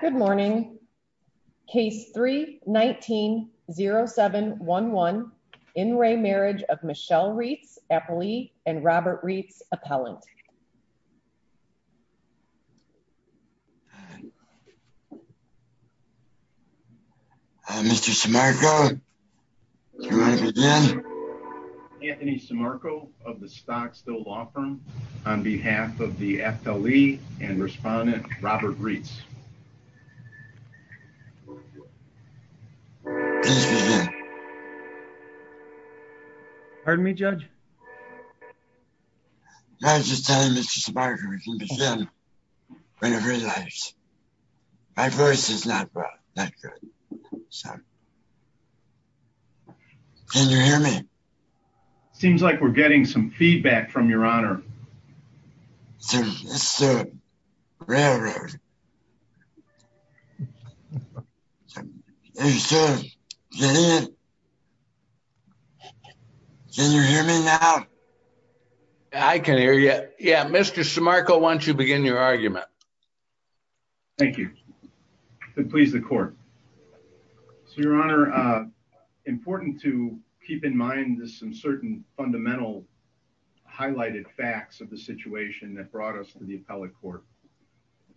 Good morning. Case 319-0711. In re Marriage of Michelle Rietz, FLE, and Robert Rietz Appellant. Mr. Simarco. Anthony Simarco of the Stocksville Law Firm on behalf of the FLE and Respondent Robert Rietz. Please begin. Pardon me, Judge? I was just telling Mr. Simarco we can begin whenever he likes. My voice is not good. Can you hear me? Seems like we're getting some feedback from your honor. It's the railroad. Can you hear me now? I can hear you. Yeah, Mr. Simarco, why don't you begin your argument. Thank you. To please the court. So your honor, important to keep in mind some certain fundamental highlighted facts of the situation that brought us to the appellate court.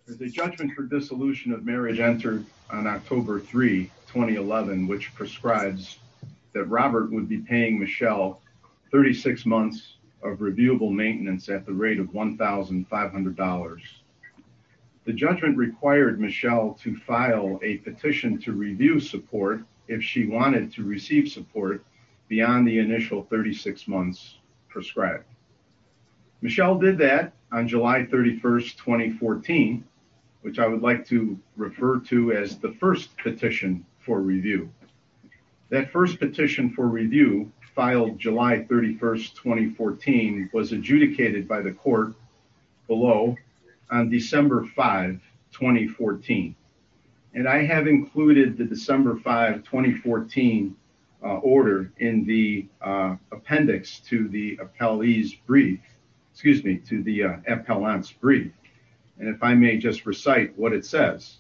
The judgment for dissolution of marriage entered on October 3, 2011, which prescribes that Robert would be paying Michelle 36 months of reviewable maintenance at the rate of $1,500. The judgment required Michelle to file a petition to review support if she wanted to receive support beyond the initial 36 months prescribed. Michelle did that on July 31, 2014, which I would like to refer to as the first petition for review. That first petition for review filed July 31, 2014, was adjudicated by the court below on December 5, 2014. And I have included the December 5, 2014 order in the appendix to the appellee's brief, excuse me, to the appellant's brief. And if I may just recite what it says,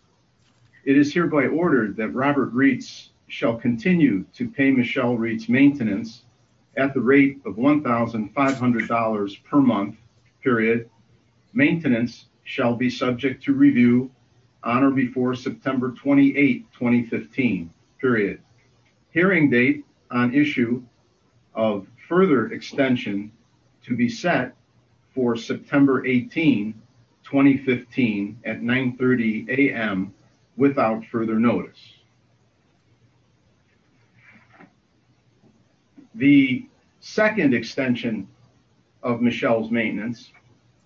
it is hereby ordered that Robert Reitz shall continue to pay Michelle Reitz maintenance at the rate of $1,500 per month period. Maintenance shall be subject to review on or before September 28, 2015 period. Hearing date on issue of further extension to be set for September 18, 2015 at 9 30 a.m. without further notice. The second extension of Michelle's maintenance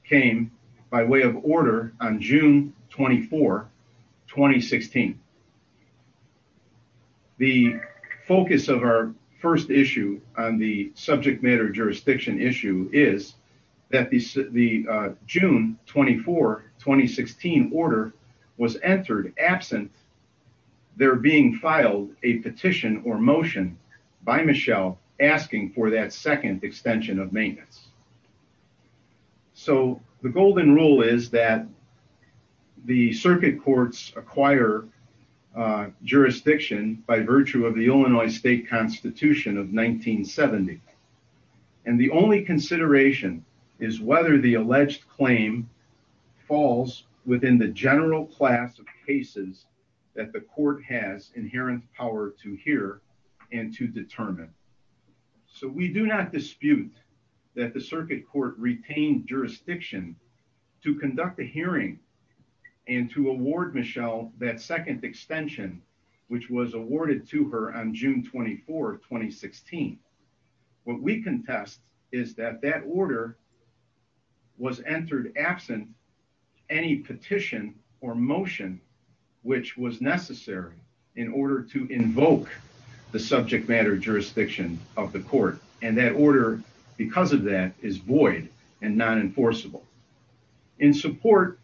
came by way of order on June 24, 2016. The focus of our first issue on the subject matter jurisdiction issue is that the June 24, 2016 order was entered absent there being filed a petition or motion by Michelle asking for that second extension of maintenance. So the golden rule is that the circuit courts acquire jurisdiction by virtue of the Illinois Constitution of 1970. And the only consideration is whether the alleged claim falls within the general class of cases that the court has inherent power to hear and to determine. So we do not dispute that the circuit court retained jurisdiction to conduct a hearing and to award Michelle that second extension which was awarded to her on June 24, 2016. What we contest is that that order was entered absent any petition or motion which was necessary in order to invoke the subject matter jurisdiction of the court. And that order because of that is and non-enforceable. In support,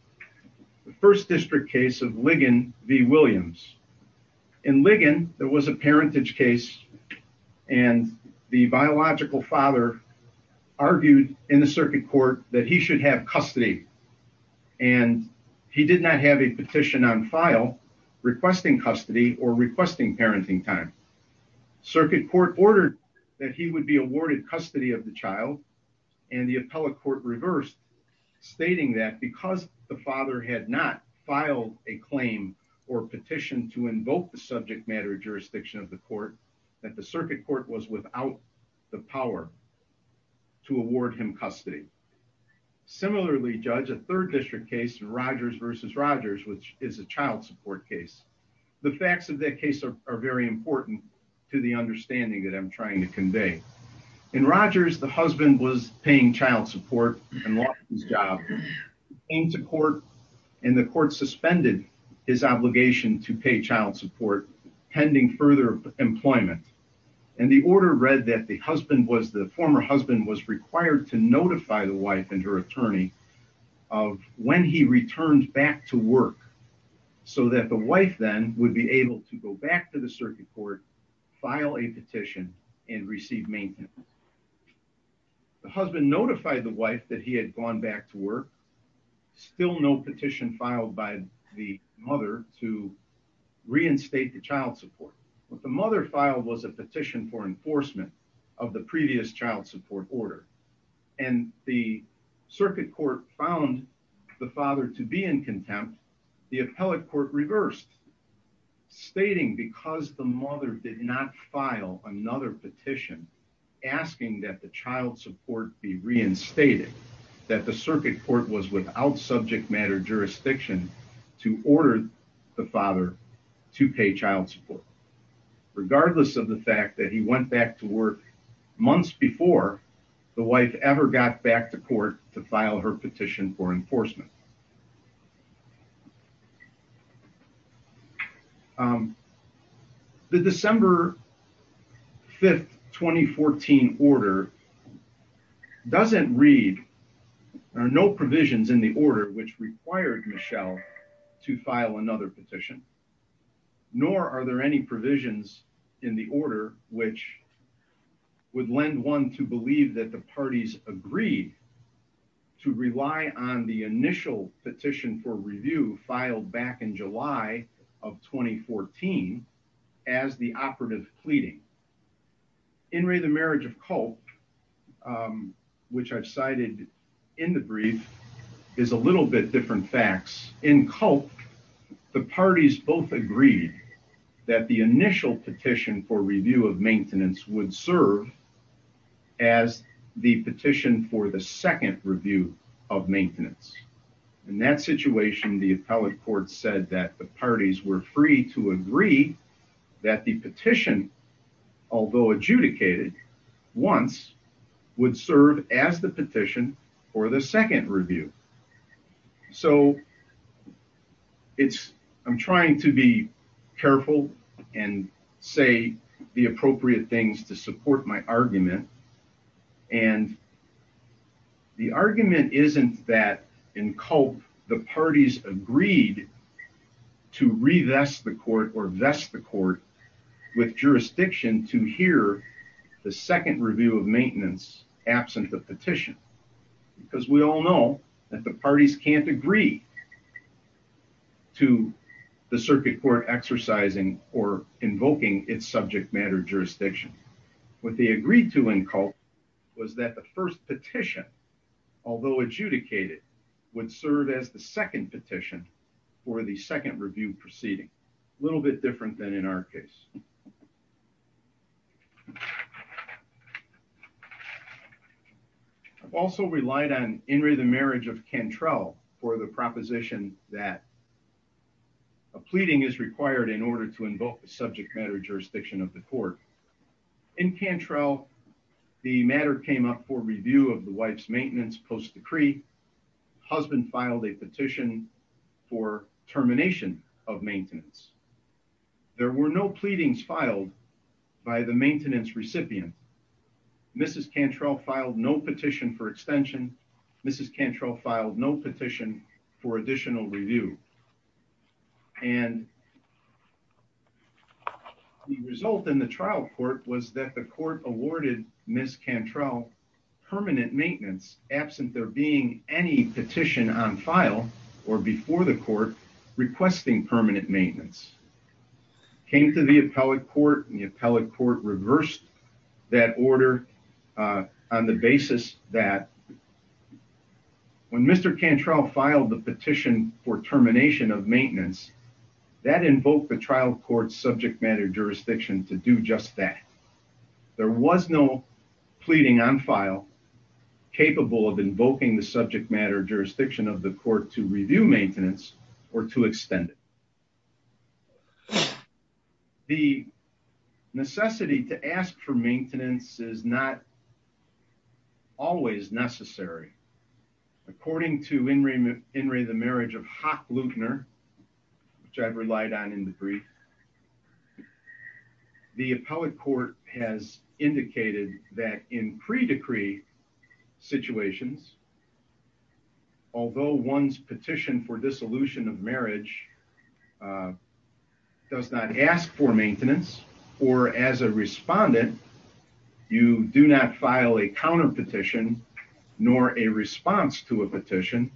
the first district case of Ligon v. Williams. In Ligon there was a parentage case and the biological father argued in the circuit court that he should have custody. And he did not have a petition on file requesting custody or requesting appellate court reversed stating that because the father had not filed a claim or petition to invoke the subject matter jurisdiction of the court that the circuit court was without the power to award him custody. Similarly judge a third district case Rogers v. Rogers which is a child support case. The facts of that case are very important to the understanding that I'm trying to convey. In Rogers the husband was paying child support and lost his job. He came to court and the court suspended his obligation to pay child support pending further employment. And the order read that the husband was the former husband was required to notify the wife and her attorney of when he returned back to work so that the wife then would be able to go back to the circuit court file a received maintenance. The husband notified the wife that he had gone back to work. Still no petition filed by the mother to reinstate the child support. What the mother filed was a petition for enforcement of the previous child support order. And the circuit court found the father to be in contempt. The appellate court reversed stating because the mother did not file another petition asking that the child support be reinstated that the circuit court was without subject matter jurisdiction to order the father to pay child support regardless of the fact that he went back to work months before the wife ever got back to court to file her petition for enforcement. Um the December 5th 2014 order doesn't read there are no provisions in the order which required Michelle to file another petition nor are there any provisions in the order which would lend one to believe that the parties agreed to rely on the initial petition for review filed back in July of 2014 as the operative pleading. In re the marriage of cult which I've cited in the brief is a little bit different facts. In cult the parties both agreed that the initial petition for review of maintenance would serve as the petition for the second review of maintenance. In that situation the appellate court said that the parties were free to agree that the petition although adjudicated once would serve as the petition for the second review. So it's I'm trying to be careful and say the appropriate things to support my argument and the argument isn't that in cult the parties agreed to revest the court or vest the court with jurisdiction to hear the second review of maintenance absent the petition because we all that the parties can't agree to the circuit court exercising or invoking its subject matter jurisdiction. What they agreed to in cult was that the first petition although adjudicated would serve as the second petition for the second review proceeding a little bit different than in our case. I've also relied on in re the marriage of Cantrell for the proposition that a pleading is required in order to invoke the subject matter jurisdiction of the court. In Cantrell the matter came up for review of the wife's maintenance post decree. Husband filed a petition for termination of maintenance. There were no pleadings filed by the maintenance recipient. Mrs. Cantrell filed no petition for extension. Mrs. Cantrell filed no petition for additional review. And the result in the trial court was that the court awarded Mrs. Cantrell permanent maintenance absent there being any petition on file or before the court requesting permanent maintenance. Came to the appellate court and the appellate court reversed that order on the basis that when Mr. Cantrell filed the petition for termination of maintenance that invoked the trial court's subject matter jurisdiction to do just that. There was no pleading on file capable of invoking the subject matter jurisdiction of the court to review maintenance or to extend it. The necessity to ask for maintenance is not always necessary. According to in re the marriage of Hock Luebner which I've relied on in the brief the appellate court has indicated that in pre-decree situations although one's petition for dissolution of marriage does not ask for maintenance or as a respondent you do not file a counter petition nor a response to a petition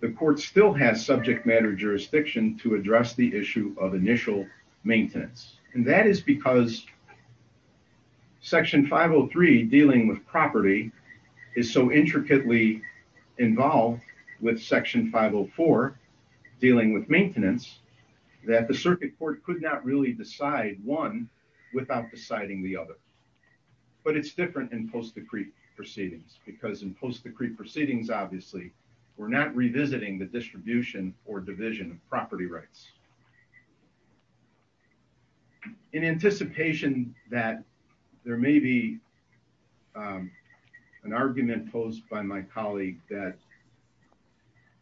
the court still has subject matter jurisdiction to address the issue of initial maintenance. And that is because section 503 dealing with property is so intricately involved with section 504 dealing with maintenance that the circuit court could not really decide one without deciding the other. But it's different in post-decree proceedings because in post-decree proceedings obviously we're not revisiting the rights. In anticipation that there may be an argument posed by my colleague that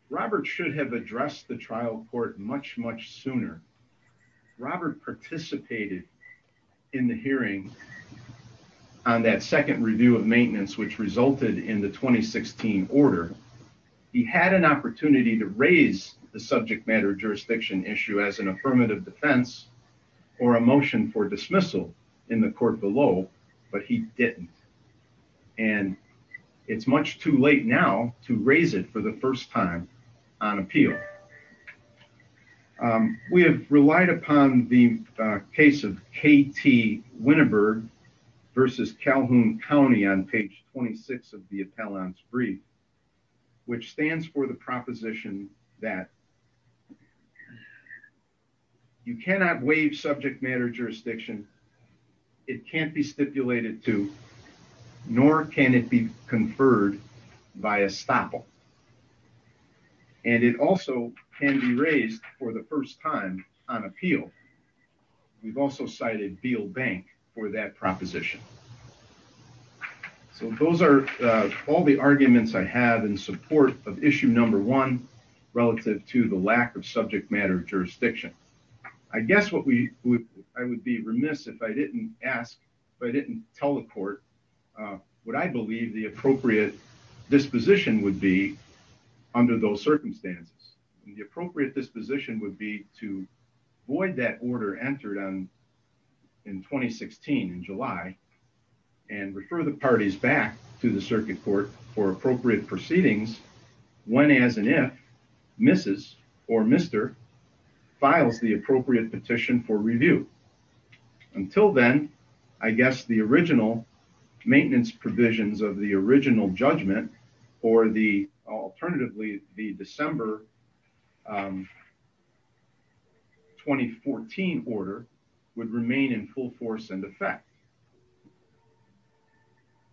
Robert should have addressed the trial court much much sooner. Robert participated in the hearing on that second review of maintenance which resulted in the 2016 order. He had an opportunity to raise the subject matter jurisdiction issue as an affirmative defense or a motion for dismissal in the court below but he didn't. And it's much too late now to raise it for the first time on appeal. We have relied upon the case of KT Winneburg versus Calhoun County on page 26 of the appellant's brief which stands for the proposition that you cannot waive subject matter jurisdiction. It can't be stipulated to nor can it be conferred by estoppel. And it also can be raised for the first time on appeal. We've also cited Beal Bank for that all the arguments I have in support of issue number one relative to the lack of subject matter jurisdiction. I guess what we would I would be remiss if I didn't ask if I didn't tell the court what I believe the appropriate disposition would be under those circumstances. And the appropriate disposition would be to void that order entered on in 2016 in July and refer the parties back to the circuit court for appropriate proceedings when as and if Mrs. or Mr. files the appropriate petition for review. Until then I guess the original maintenance provisions of the original judgment or the alternatively the December um 2014 order would remain in full force and effect.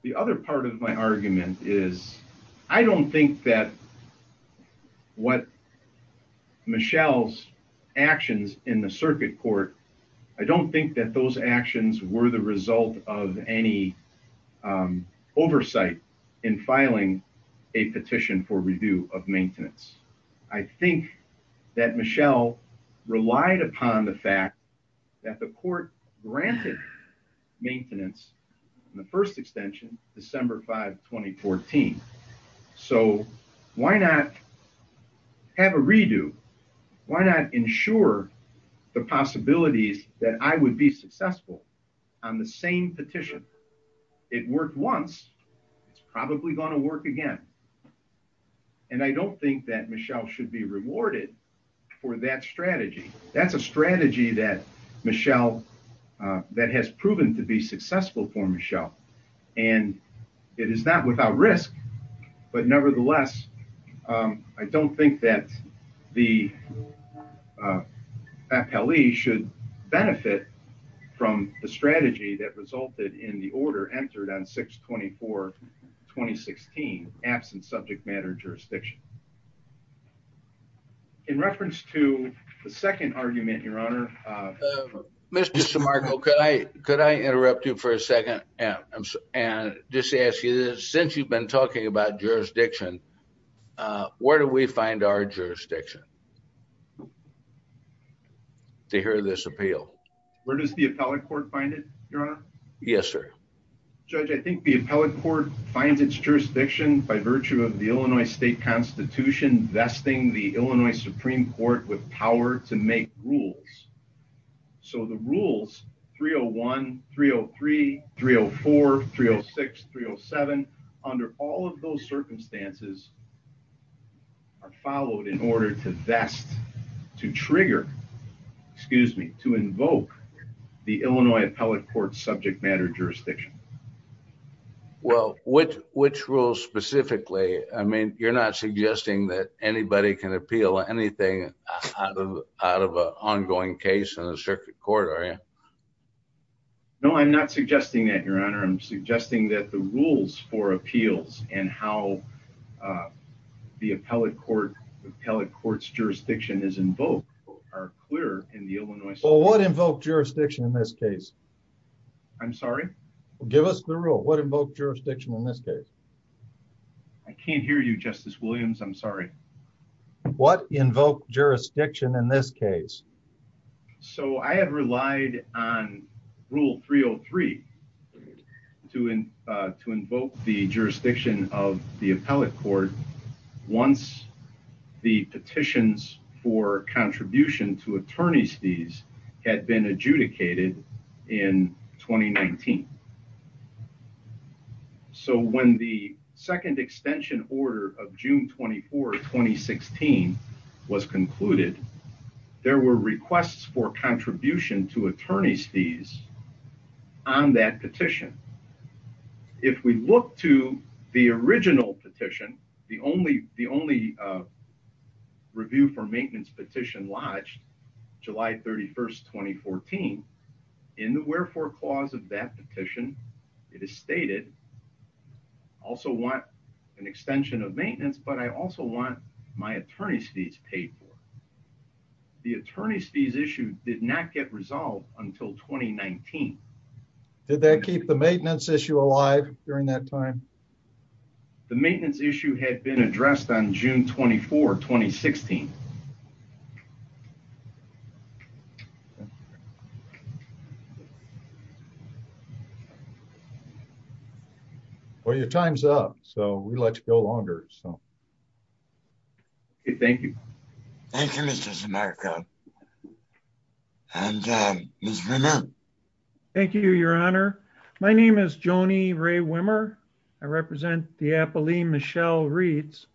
The other part of my argument is I don't think that what Michelle's actions in the circuit court I don't think that those actions were the result of any um oversight in filing a petition for review of maintenance. I think that Michelle relied upon the fact that the court granted maintenance in the first extension December 5 2014. So why not have a redo? Why not ensure the possibilities that I would be successful on the same petition? It worked once it's probably going to work again. And I don't think that Michelle should be rewarded for that strategy. That's a strategy that Michelle that has proven to be successful for Michelle and it is not without risk but nevertheless I don't think that the uh appellee should benefit from the strategy that resulted in the order entered on 6-24-2016 absent subject matter jurisdiction. In reference to the second argument your honor uh Mr. DeMarco could I could I interrupt you for a second and just ask you since you've been talking about jurisdiction uh where do we find our jurisdiction to hear this appeal? Where does the appellate court find it your honor? Yes sir. Judge I think the appellate court finds its jurisdiction by virtue of the Illinois state constitution vesting the Illinois Supreme Court with power to make rules. So the rules 301, 303, 304, 306, 307 under all of those circumstances are followed in order to vest to trigger excuse me to invoke the Illinois appellate court subject matter jurisdiction. Well which which rules specifically I mean you're not suggesting that anybody can appeal anything out of out of an ongoing case in a circuit court are you? No I'm not suggesting that your honor. I'm suggesting that the rules for appeals and how the appellate court the appellate court's jurisdiction is invoked are clear in the I'm sorry? Give us the rule what invoked jurisdiction in this case? I can't hear you Justice Williams I'm sorry. What invoked jurisdiction in this case? So I have relied on rule 303 to uh to invoke the jurisdiction of the appellate court once the petitions for contribution to attorney's fees had been adjudicated in 2019. So when the second extension order of June 24, 2016 was concluded there were requests for contribution to attorney's fees on that petition. If we look to the original petition the only the uh review for maintenance petition lodged July 31st, 2014 in the wherefore clause of that petition it is stated I also want an extension of maintenance but I also want my attorney's fees paid for. The attorney's fees issue did not get resolved until 2019. Did that keep the June 24, 2016. Well your time's up so we'd like to go longer so. Thank you. Thank you Mr. Zamarco. And uh Ms. Wimmer. Thank you your honor. My name is Joni Rae Wimmer. I represent the Illinois Appellate Court.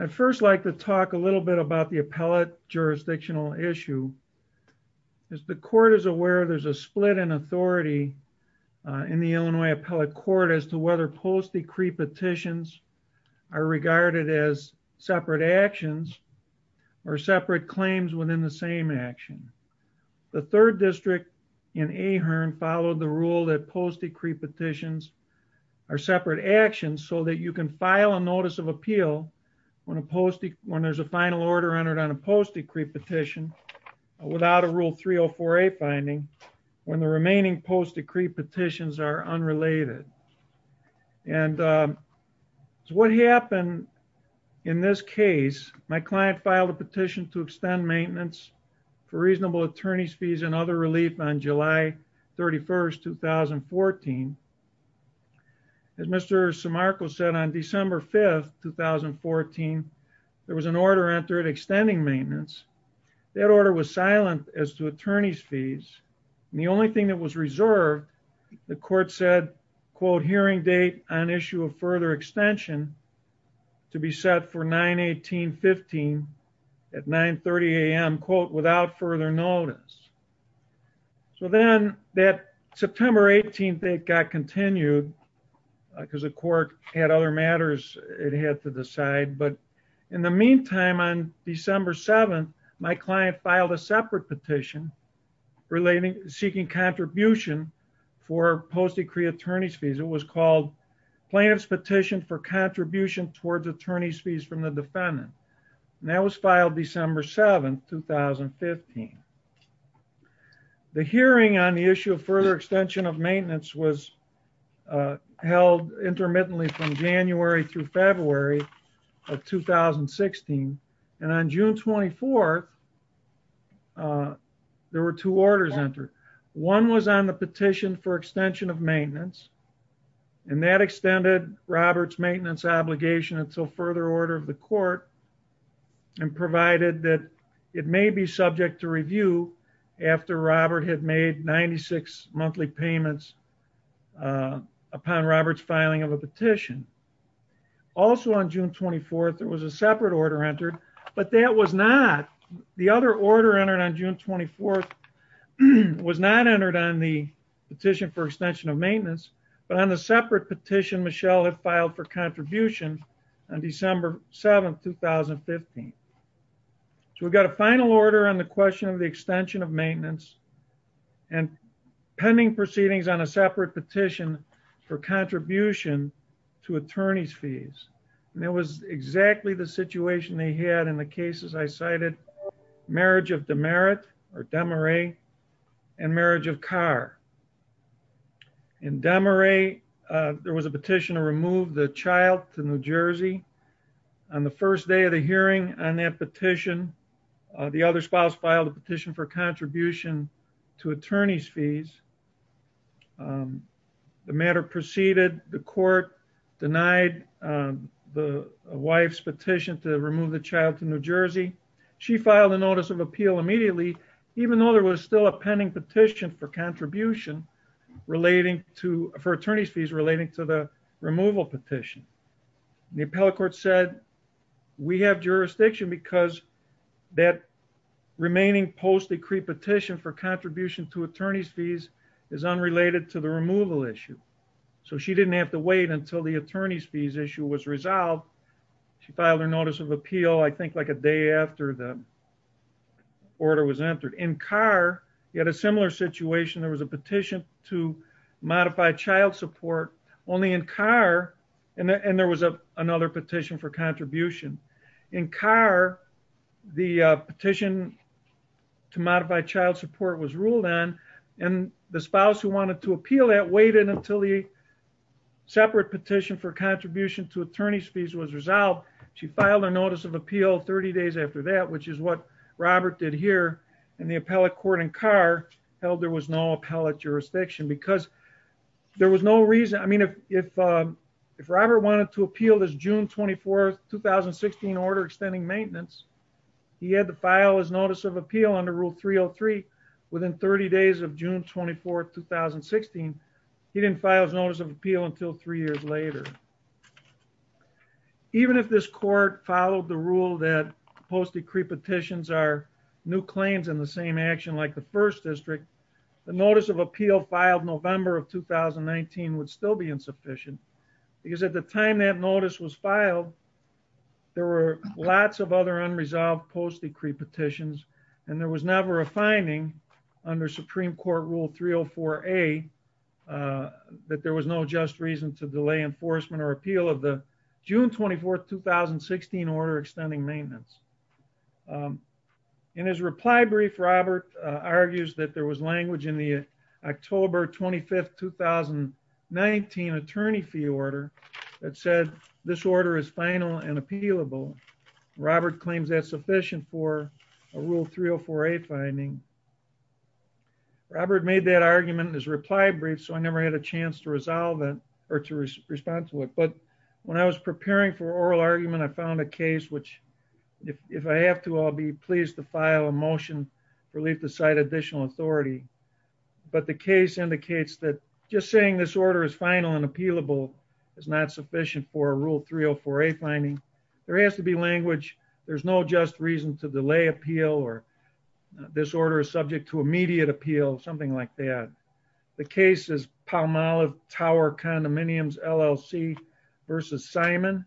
I'd first like to talk a little bit about the appellate jurisdictional issue. As the court is aware there's a split in authority in the Illinois Appellate Court as to whether post-decree petitions are regarded as separate actions or separate claims within the same action. The third district in Ahearn followed the rule that post-decree petitions are separate actions so that you can file a notice of appeal when a post when there's a final order entered on a post-decree petition without a rule 3048 finding when the remaining post-decree petitions are unrelated. And what happened in this case my client filed a petition to extend maintenance for reasonable attorney's fees and other relief on July 31st, 2014 as Mr. Zamarco said on December 5th, 2014 there was an order entered extending maintenance. That order was silent as to attorney's fees and the only thing that was reserved the court said quote hearing date on issue of further extension to be set for 9 18 15 at 9 30 a.m quote without further notice. So then that September 18th it got continued because the court had other matters it had to decide but in the meantime on December 7th my client filed a separate petition relating seeking contribution for post-decree attorney's fees. It was called plaintiff's petition for contribution towards attorney's fees from the defendant and that was filed December 7th 2015. The hearing on the issue of further extension of maintenance was held intermittently from January through February of 2016 and on June 24th there were two orders entered. One was on the petition for extension of maintenance and that extended Robert's maintenance obligation until further order of the court and provided that it may be subject to review after Robert had made 96 monthly payments upon Robert's filing of a petition. Also on June 24th there was a separate order entered but that was not the other order entered on June 24th was not entered on the petition for extension of maintenance but on the separate petition Michelle had filed for contribution on December 7th 2015. So we've got a final order on the question of the extension of maintenance and pending proceedings on a separate petition for contribution to attorney's fees and it was exactly the situation they had in the cases I cited marriage of demerit or demaret and marriage of car. In demaret there was a petition to remove the child to New Jersey. On the first day of the hearing on that petition the other spouse filed a petition for contribution to attorney's fees. The matter proceeded the court denied the wife's petition to remove the child to New Jersey. She filed a notice of appeal immediately even though there was still a contribution relating to for attorney's fees relating to the removal petition. The appellate court said we have jurisdiction because that remaining post decree petition for contribution to attorney's fees is unrelated to the removal issue. So she didn't have to wait until the attorney's fees issue was resolved. She filed her notice of appeal I think like a day after the order was entered. In car he had a similar situation. There was a petition to modify child support only in car and there was a another petition for contribution. In car the petition to modify child support was ruled on and the spouse who wanted to appeal that waited until the separate petition for contribution to attorney's fees was resolved. She filed a notice of appeal 30 days after that which is what Robert did here and the appellate court in car held there was no appellate jurisdiction because there was no reason I mean if Robert wanted to appeal this June 24th 2016 order extending maintenance he had to file his notice of appeal under rule 303 within 30 days of June 24th 2016. He didn't file his notice of appeal until three years later. So I think that's a pretty good example of what we're talking about here. Even if this court followed the rule that post decree petitions are new claims in the same action like the first district the notice of appeal filed November of 2019 would still be insufficient because at the time that notice was filed there were lots of other unresolved post decree petitions and there was never a finding under supreme court rule 304a that there was no just reason to delay enforcement or appeal of the June 24th 2016 order extending maintenance. In his reply brief Robert argues that there was language in the October 25th 2019 attorney fee that said this order is final and appealable. Robert claims that's sufficient for a rule 304a finding. Robert made that argument in his reply brief so I never had a chance to resolve it or to respond to it but when I was preparing for oral argument I found a case which if I have to I'll be pleased to file a motion to decide additional authority but the case indicates that just saying this order is final and appealable is not sufficient for a rule 304a finding. There has to be language there's no just reason to delay appeal or this order is subject to immediate appeal something like that. The case is Palmolive Tower condominiums LLC versus Simon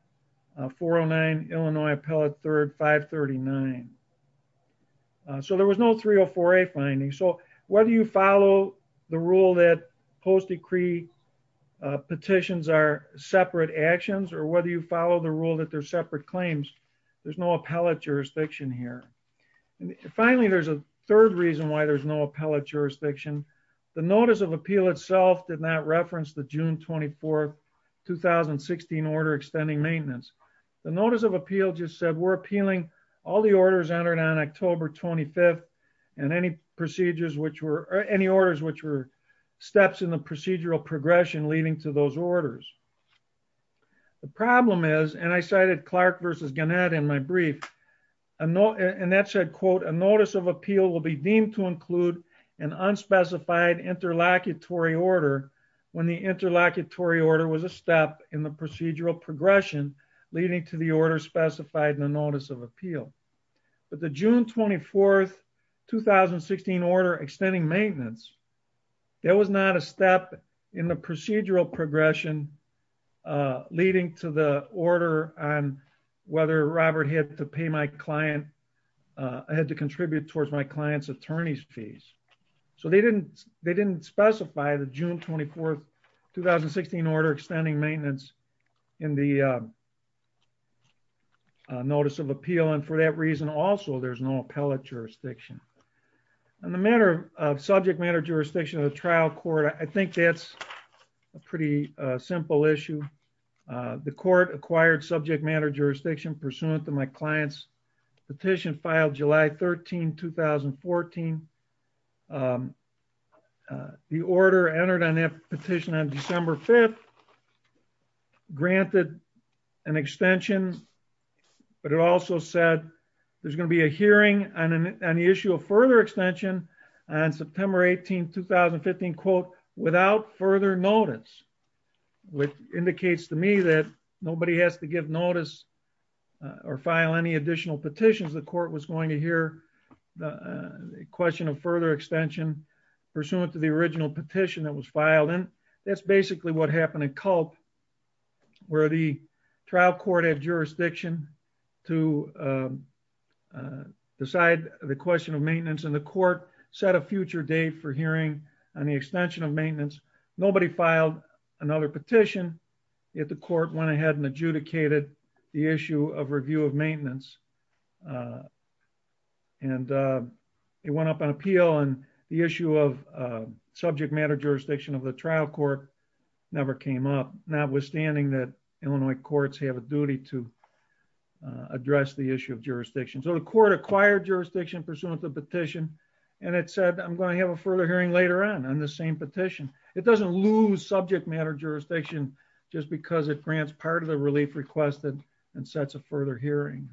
409 Illinois appellate third 539. So there was no 304a finding so whether you follow the rule that post decree petitions are separate actions or whether you follow the rule that they're separate claims there's no appellate jurisdiction here. Finally there's a third reason why there's no appellate jurisdiction the notice of appeal itself did not reference the June 24th 2016 order extending maintenance. The notice of appeal just said we're appealing all the orders entered on October 25th and any procedures which were any orders which were steps in the procedural progression leading to those orders. The problem is and I cited Clark versus Gannett in my brief and that said quote a notice of appeal will be deemed to include an unspecified interlocutory order when the interlocutory order was a step in the procedural progression leading to the order specified in the notice of appeal. But the June 24th 2016 order extending maintenance there was not a step in the procedural progression leading to the order on whether Robert had to pay my client I had to contribute towards my client's attorney's fees. So they didn't specify the June 24th 2016 order extending maintenance in the notice of appeal and for that reason also there's no appellate jurisdiction. On the matter of subject matter jurisdiction of the trial court I think that's a pretty simple issue. The court acquired subject matter jurisdiction pursuant to my client's petition filed July 13 2014. The order entered on that petition on December 5th granted an extension but it also said there's going to be a hearing on an issue of further extension on September 18 2015 quote without further notice which indicates to me that nobody has to give notice or file any additional petitions the court was going to hear the question of further extension pursuant to the original petition that was filed and that's basically what happened in Culp where the trial court had jurisdiction to decide the question of maintenance and the court set a future date for hearing on the extension of maintenance. Nobody filed another petition yet the court went ahead and adjudicated the issue of review of maintenance and it went up on appeal and the issue of subject matter jurisdiction of the trial court never came up notwithstanding that Illinois courts have a duty to address the issue of jurisdiction. So the court acquired jurisdiction pursuant to the petition and it said I'm going to have a further hearing later on on the same petition. It doesn't lose subject matter jurisdiction just because it grants part of the relief requested and sets a further hearing.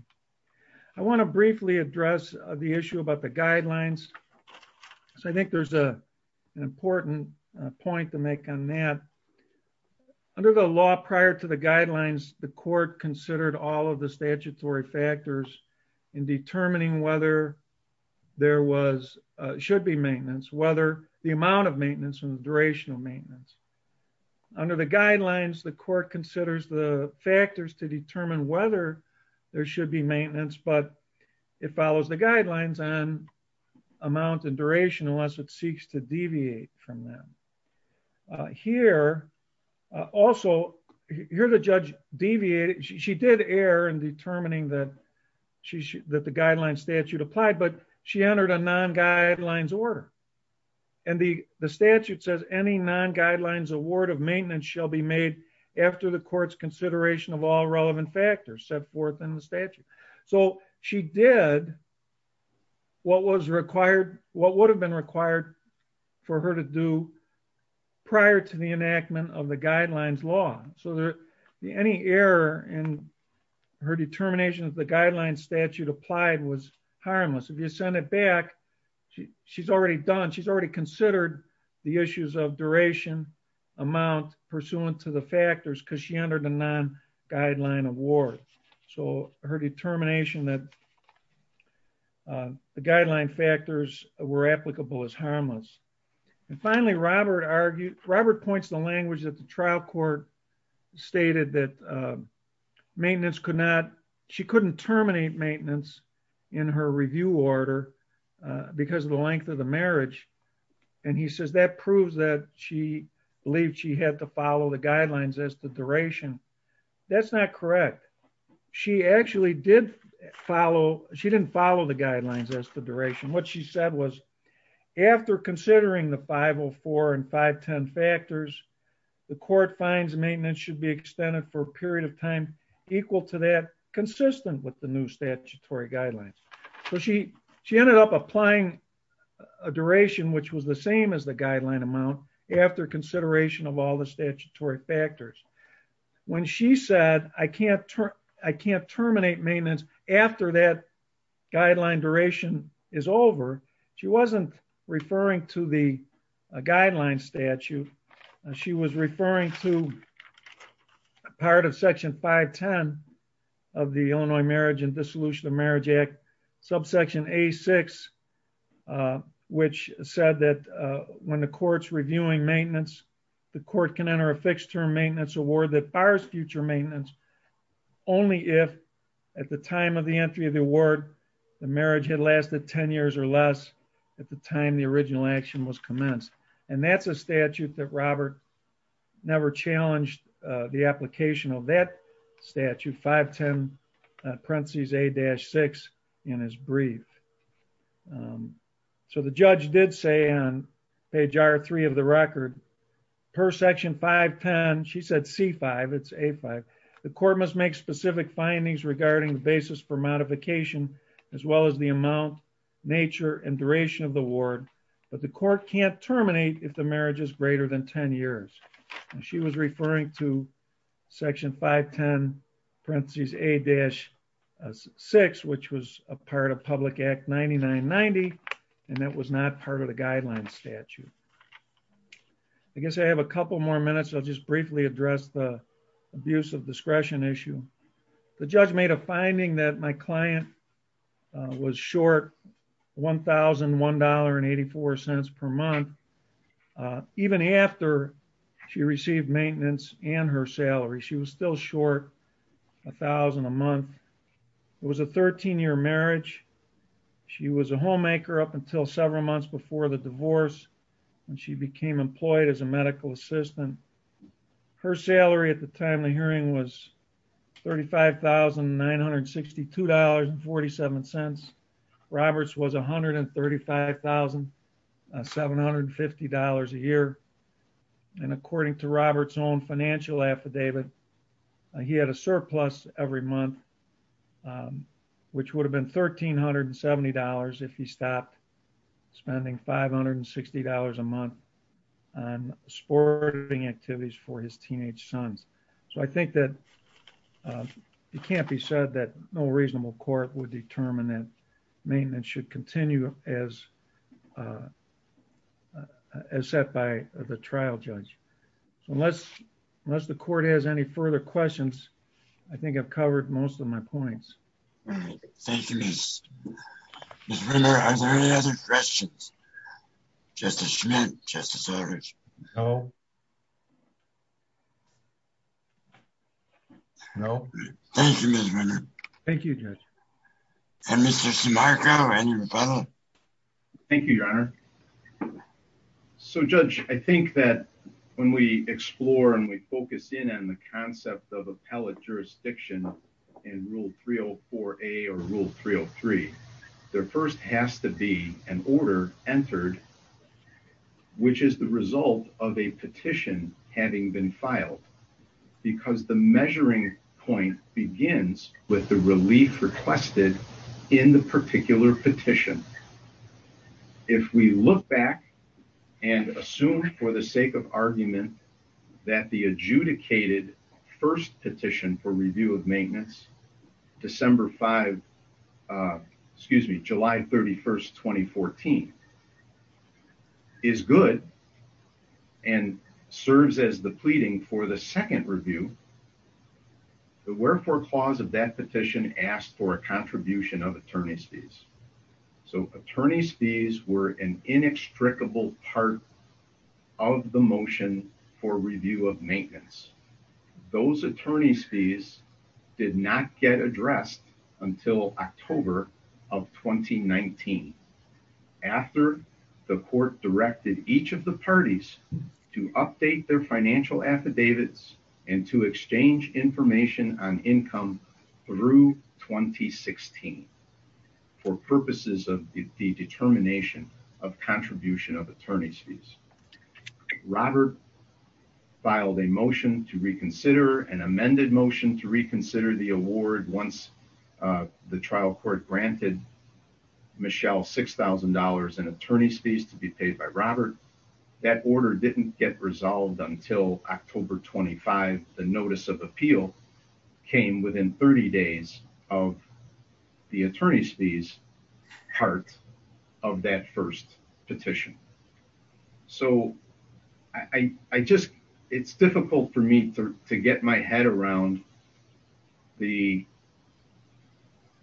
I want to briefly address the issue about the guidelines so I think there's a an important point to make on that. Under the law prior to the guidelines the court considered all of the whether the amount of maintenance and the duration of maintenance. Under the guidelines the court considers the factors to determine whether there should be maintenance but it follows the guidelines on amount and duration unless it seeks to deviate from them. Here also here the judge deviated she did err in determining that she that the and the the statute says any non-guidelines award of maintenance shall be made after the court's consideration of all relevant factors set forth in the statute. So she did what was required what would have been required for her to do prior to the enactment of the guidelines law. So there any error in her determination of the guidelines statute applied was harmless. If you send it back she she's already done she's already considered the issues of duration amount pursuant to the factors because she entered a non-guideline award. So her determination that the guideline factors were applicable is harmless. And finally Robert argued Robert points the language that the trial court stated that maintenance could not she couldn't terminate maintenance in her review order because of the length of the marriage. And he says that proves that she believed she had to follow the guidelines as to duration. That's not correct. She actually did follow she didn't follow the guidelines as to duration. What she said was after considering the 504 and 510 factors the court finds maintenance should be extended for a period of time equal to that consistent with the new statutory guidelines. So she she ended up applying a duration which was the same as the guideline amount after consideration of all the statutory factors. When she said I can't I can't terminate maintenance after that guideline duration is over she wasn't referring to the Marriage and Dissolution of Marriage Act subsection A6 which said that when the court's reviewing maintenance the court can enter a fixed term maintenance award that bars future maintenance only if at the time of the entry of the award the marriage had lasted 10 years or less at the time the original action was commenced. And that's a statute that Robert never challenged the application of that statute 510 parentheses A-6 in his brief. So the judge did say on page R3 of the record per section 510 she said C5 it's A5 the court must make specific findings regarding the basis for modification as well as the amount nature and duration of the award but the court can't I guess I have a couple more minutes I'll just briefly address the abuse of discretion issue. The judge made a finding that my client was short $1,001.84 per month even after she received maintenance and her salary she was still short a thousand a month. It was a 13-year marriage she was a homemaker up until several months before the divorce when she became employed as a medical assistant. Her salary at the time the hearing was $35,962.47. Robert's was $135,750 a year and according to Robert's own financial affidavit he had a surplus every month which would have been $1,370 if he stopped spending $560 a month on sporting activities for his teenage sons. So I think that it can't be said that no reasonable court would determine that maintenance should continue as set by the trial judge. So unless the court has any further questions I think I've covered most of my points. All right thank you. Mr. Rinder are there any other questions? Justice Schmidt, Justice Eldridge? No. No. Thank you Mr. Rinder. Thank you Judge. And Mr. Simarco and your fellow. Thank you your honor. So Judge I think that when we explore and we focus in on the concept of appellate jurisdiction in rule 304a or rule 303 there first has to be an order entered which is the result of a petition having been filed because the measuring point begins with the relief requested in the particular petition. If we look back and assume for the sake of argument that the adjudicated first petition for review of maintenance December 5 excuse me July 31st 2014 is good and serves as the pleading for the second review the wherefore clause of that petition asked for a contribution of attorney's fees. So attorney's fees were an inextricable part of the motion for review of maintenance. Those attorney's fees did not get addressed until October of 2019 after the court directed each of the parties to update their financial affidavits and to exchange information on income through 2016 for purposes of the determination of contribution of attorney's fees. Robert filed a motion to reconsider an amended motion to reconsider the award once the trial court granted Michelle $6,000 in attorney's fees to be paid by Robert. That order didn't get resolved until October 25. The notice of appeal came within 30 days of the attorney's fees part of that first petition. So I just it's difficult for me to get my head around the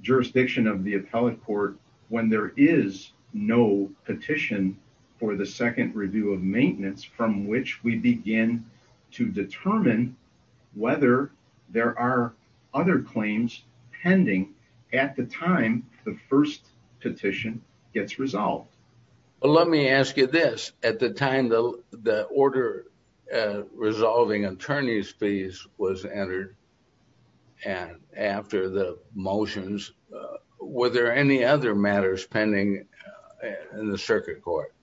jurisdiction of the appellate court when there is no petition for the second review of maintenance from which we begin to determine whether there are other claims pending at the time the first petition gets resolved. Well let me ask you this at the time the the order resolving attorney's fees was entered and after the motions were there any other matters pending in the circuit court?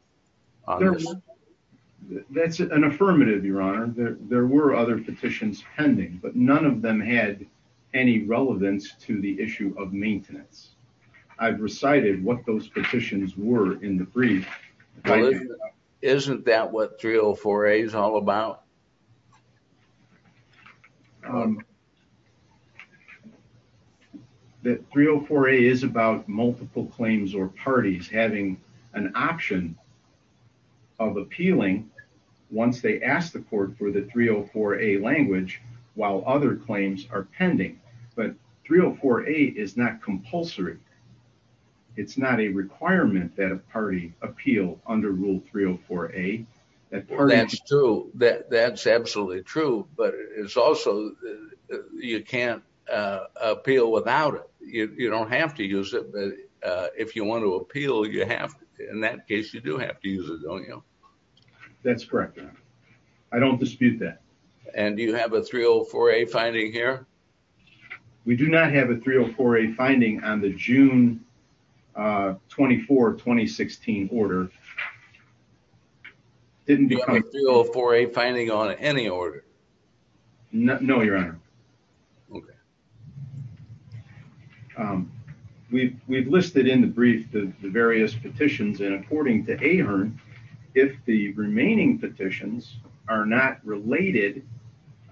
That's an affirmative your honor. There were other petitions pending but none of them had any relevance to the issue of maintenance. I've recited what those petitions were in the brief. Isn't that what 304a is all about? That 304a is about multiple claims or parties having an option of appealing once they ask the court for the 304a language while other claims are pending but 304a is not compulsory. It's not a requirement that a party appeal under rule 304a. That's true that that's absolutely true but it's also you can't appeal without it. You don't have to use it but if you want to appeal you have in that case you do have to use it don't you? That's correct your honor. I don't dispute that. And do you have a 304a finding here? We do not have a 304a finding on the June 24 2016 order. Didn't you have a 304a finding on any order? No your honor. Okay. We've listed in the brief the various petitions and according to Ahern if the remaining petitions are not related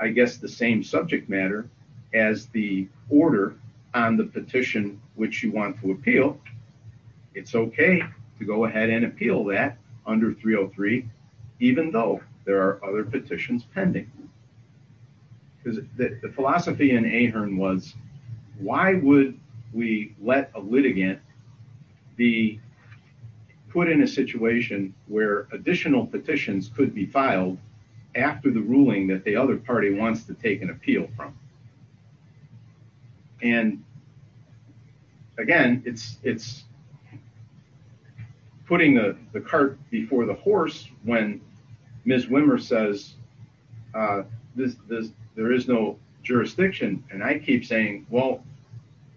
I guess the same subject matter as the order on the petition which you want to appeal it's okay to go ahead and appeal that under 303 even though there are other petitions pending. Because the philosophy in Ahern was why would we let a litigant be put in a situation where additional petitions could be filed after the ruling that the other party wants to take an appeal from? And again it's putting the cart before the horse when Ms. Wimmer says there is no jurisdiction and I keep saying well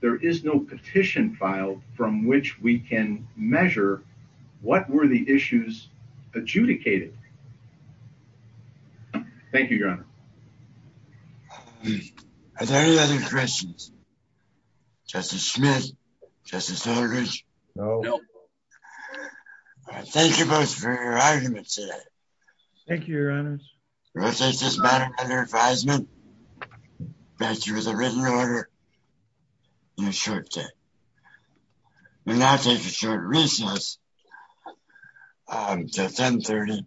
there is no petition filed from which we can measure what were the issues adjudicated. Thank you your honor. Are there any other questions? Justice Smith? Justice Aldridge? No. Thank you both for your arguments today. Thank you your honors. We'll take this matter under advisement back to you with a written order in a short time. We'll now take a short recess until 10 30.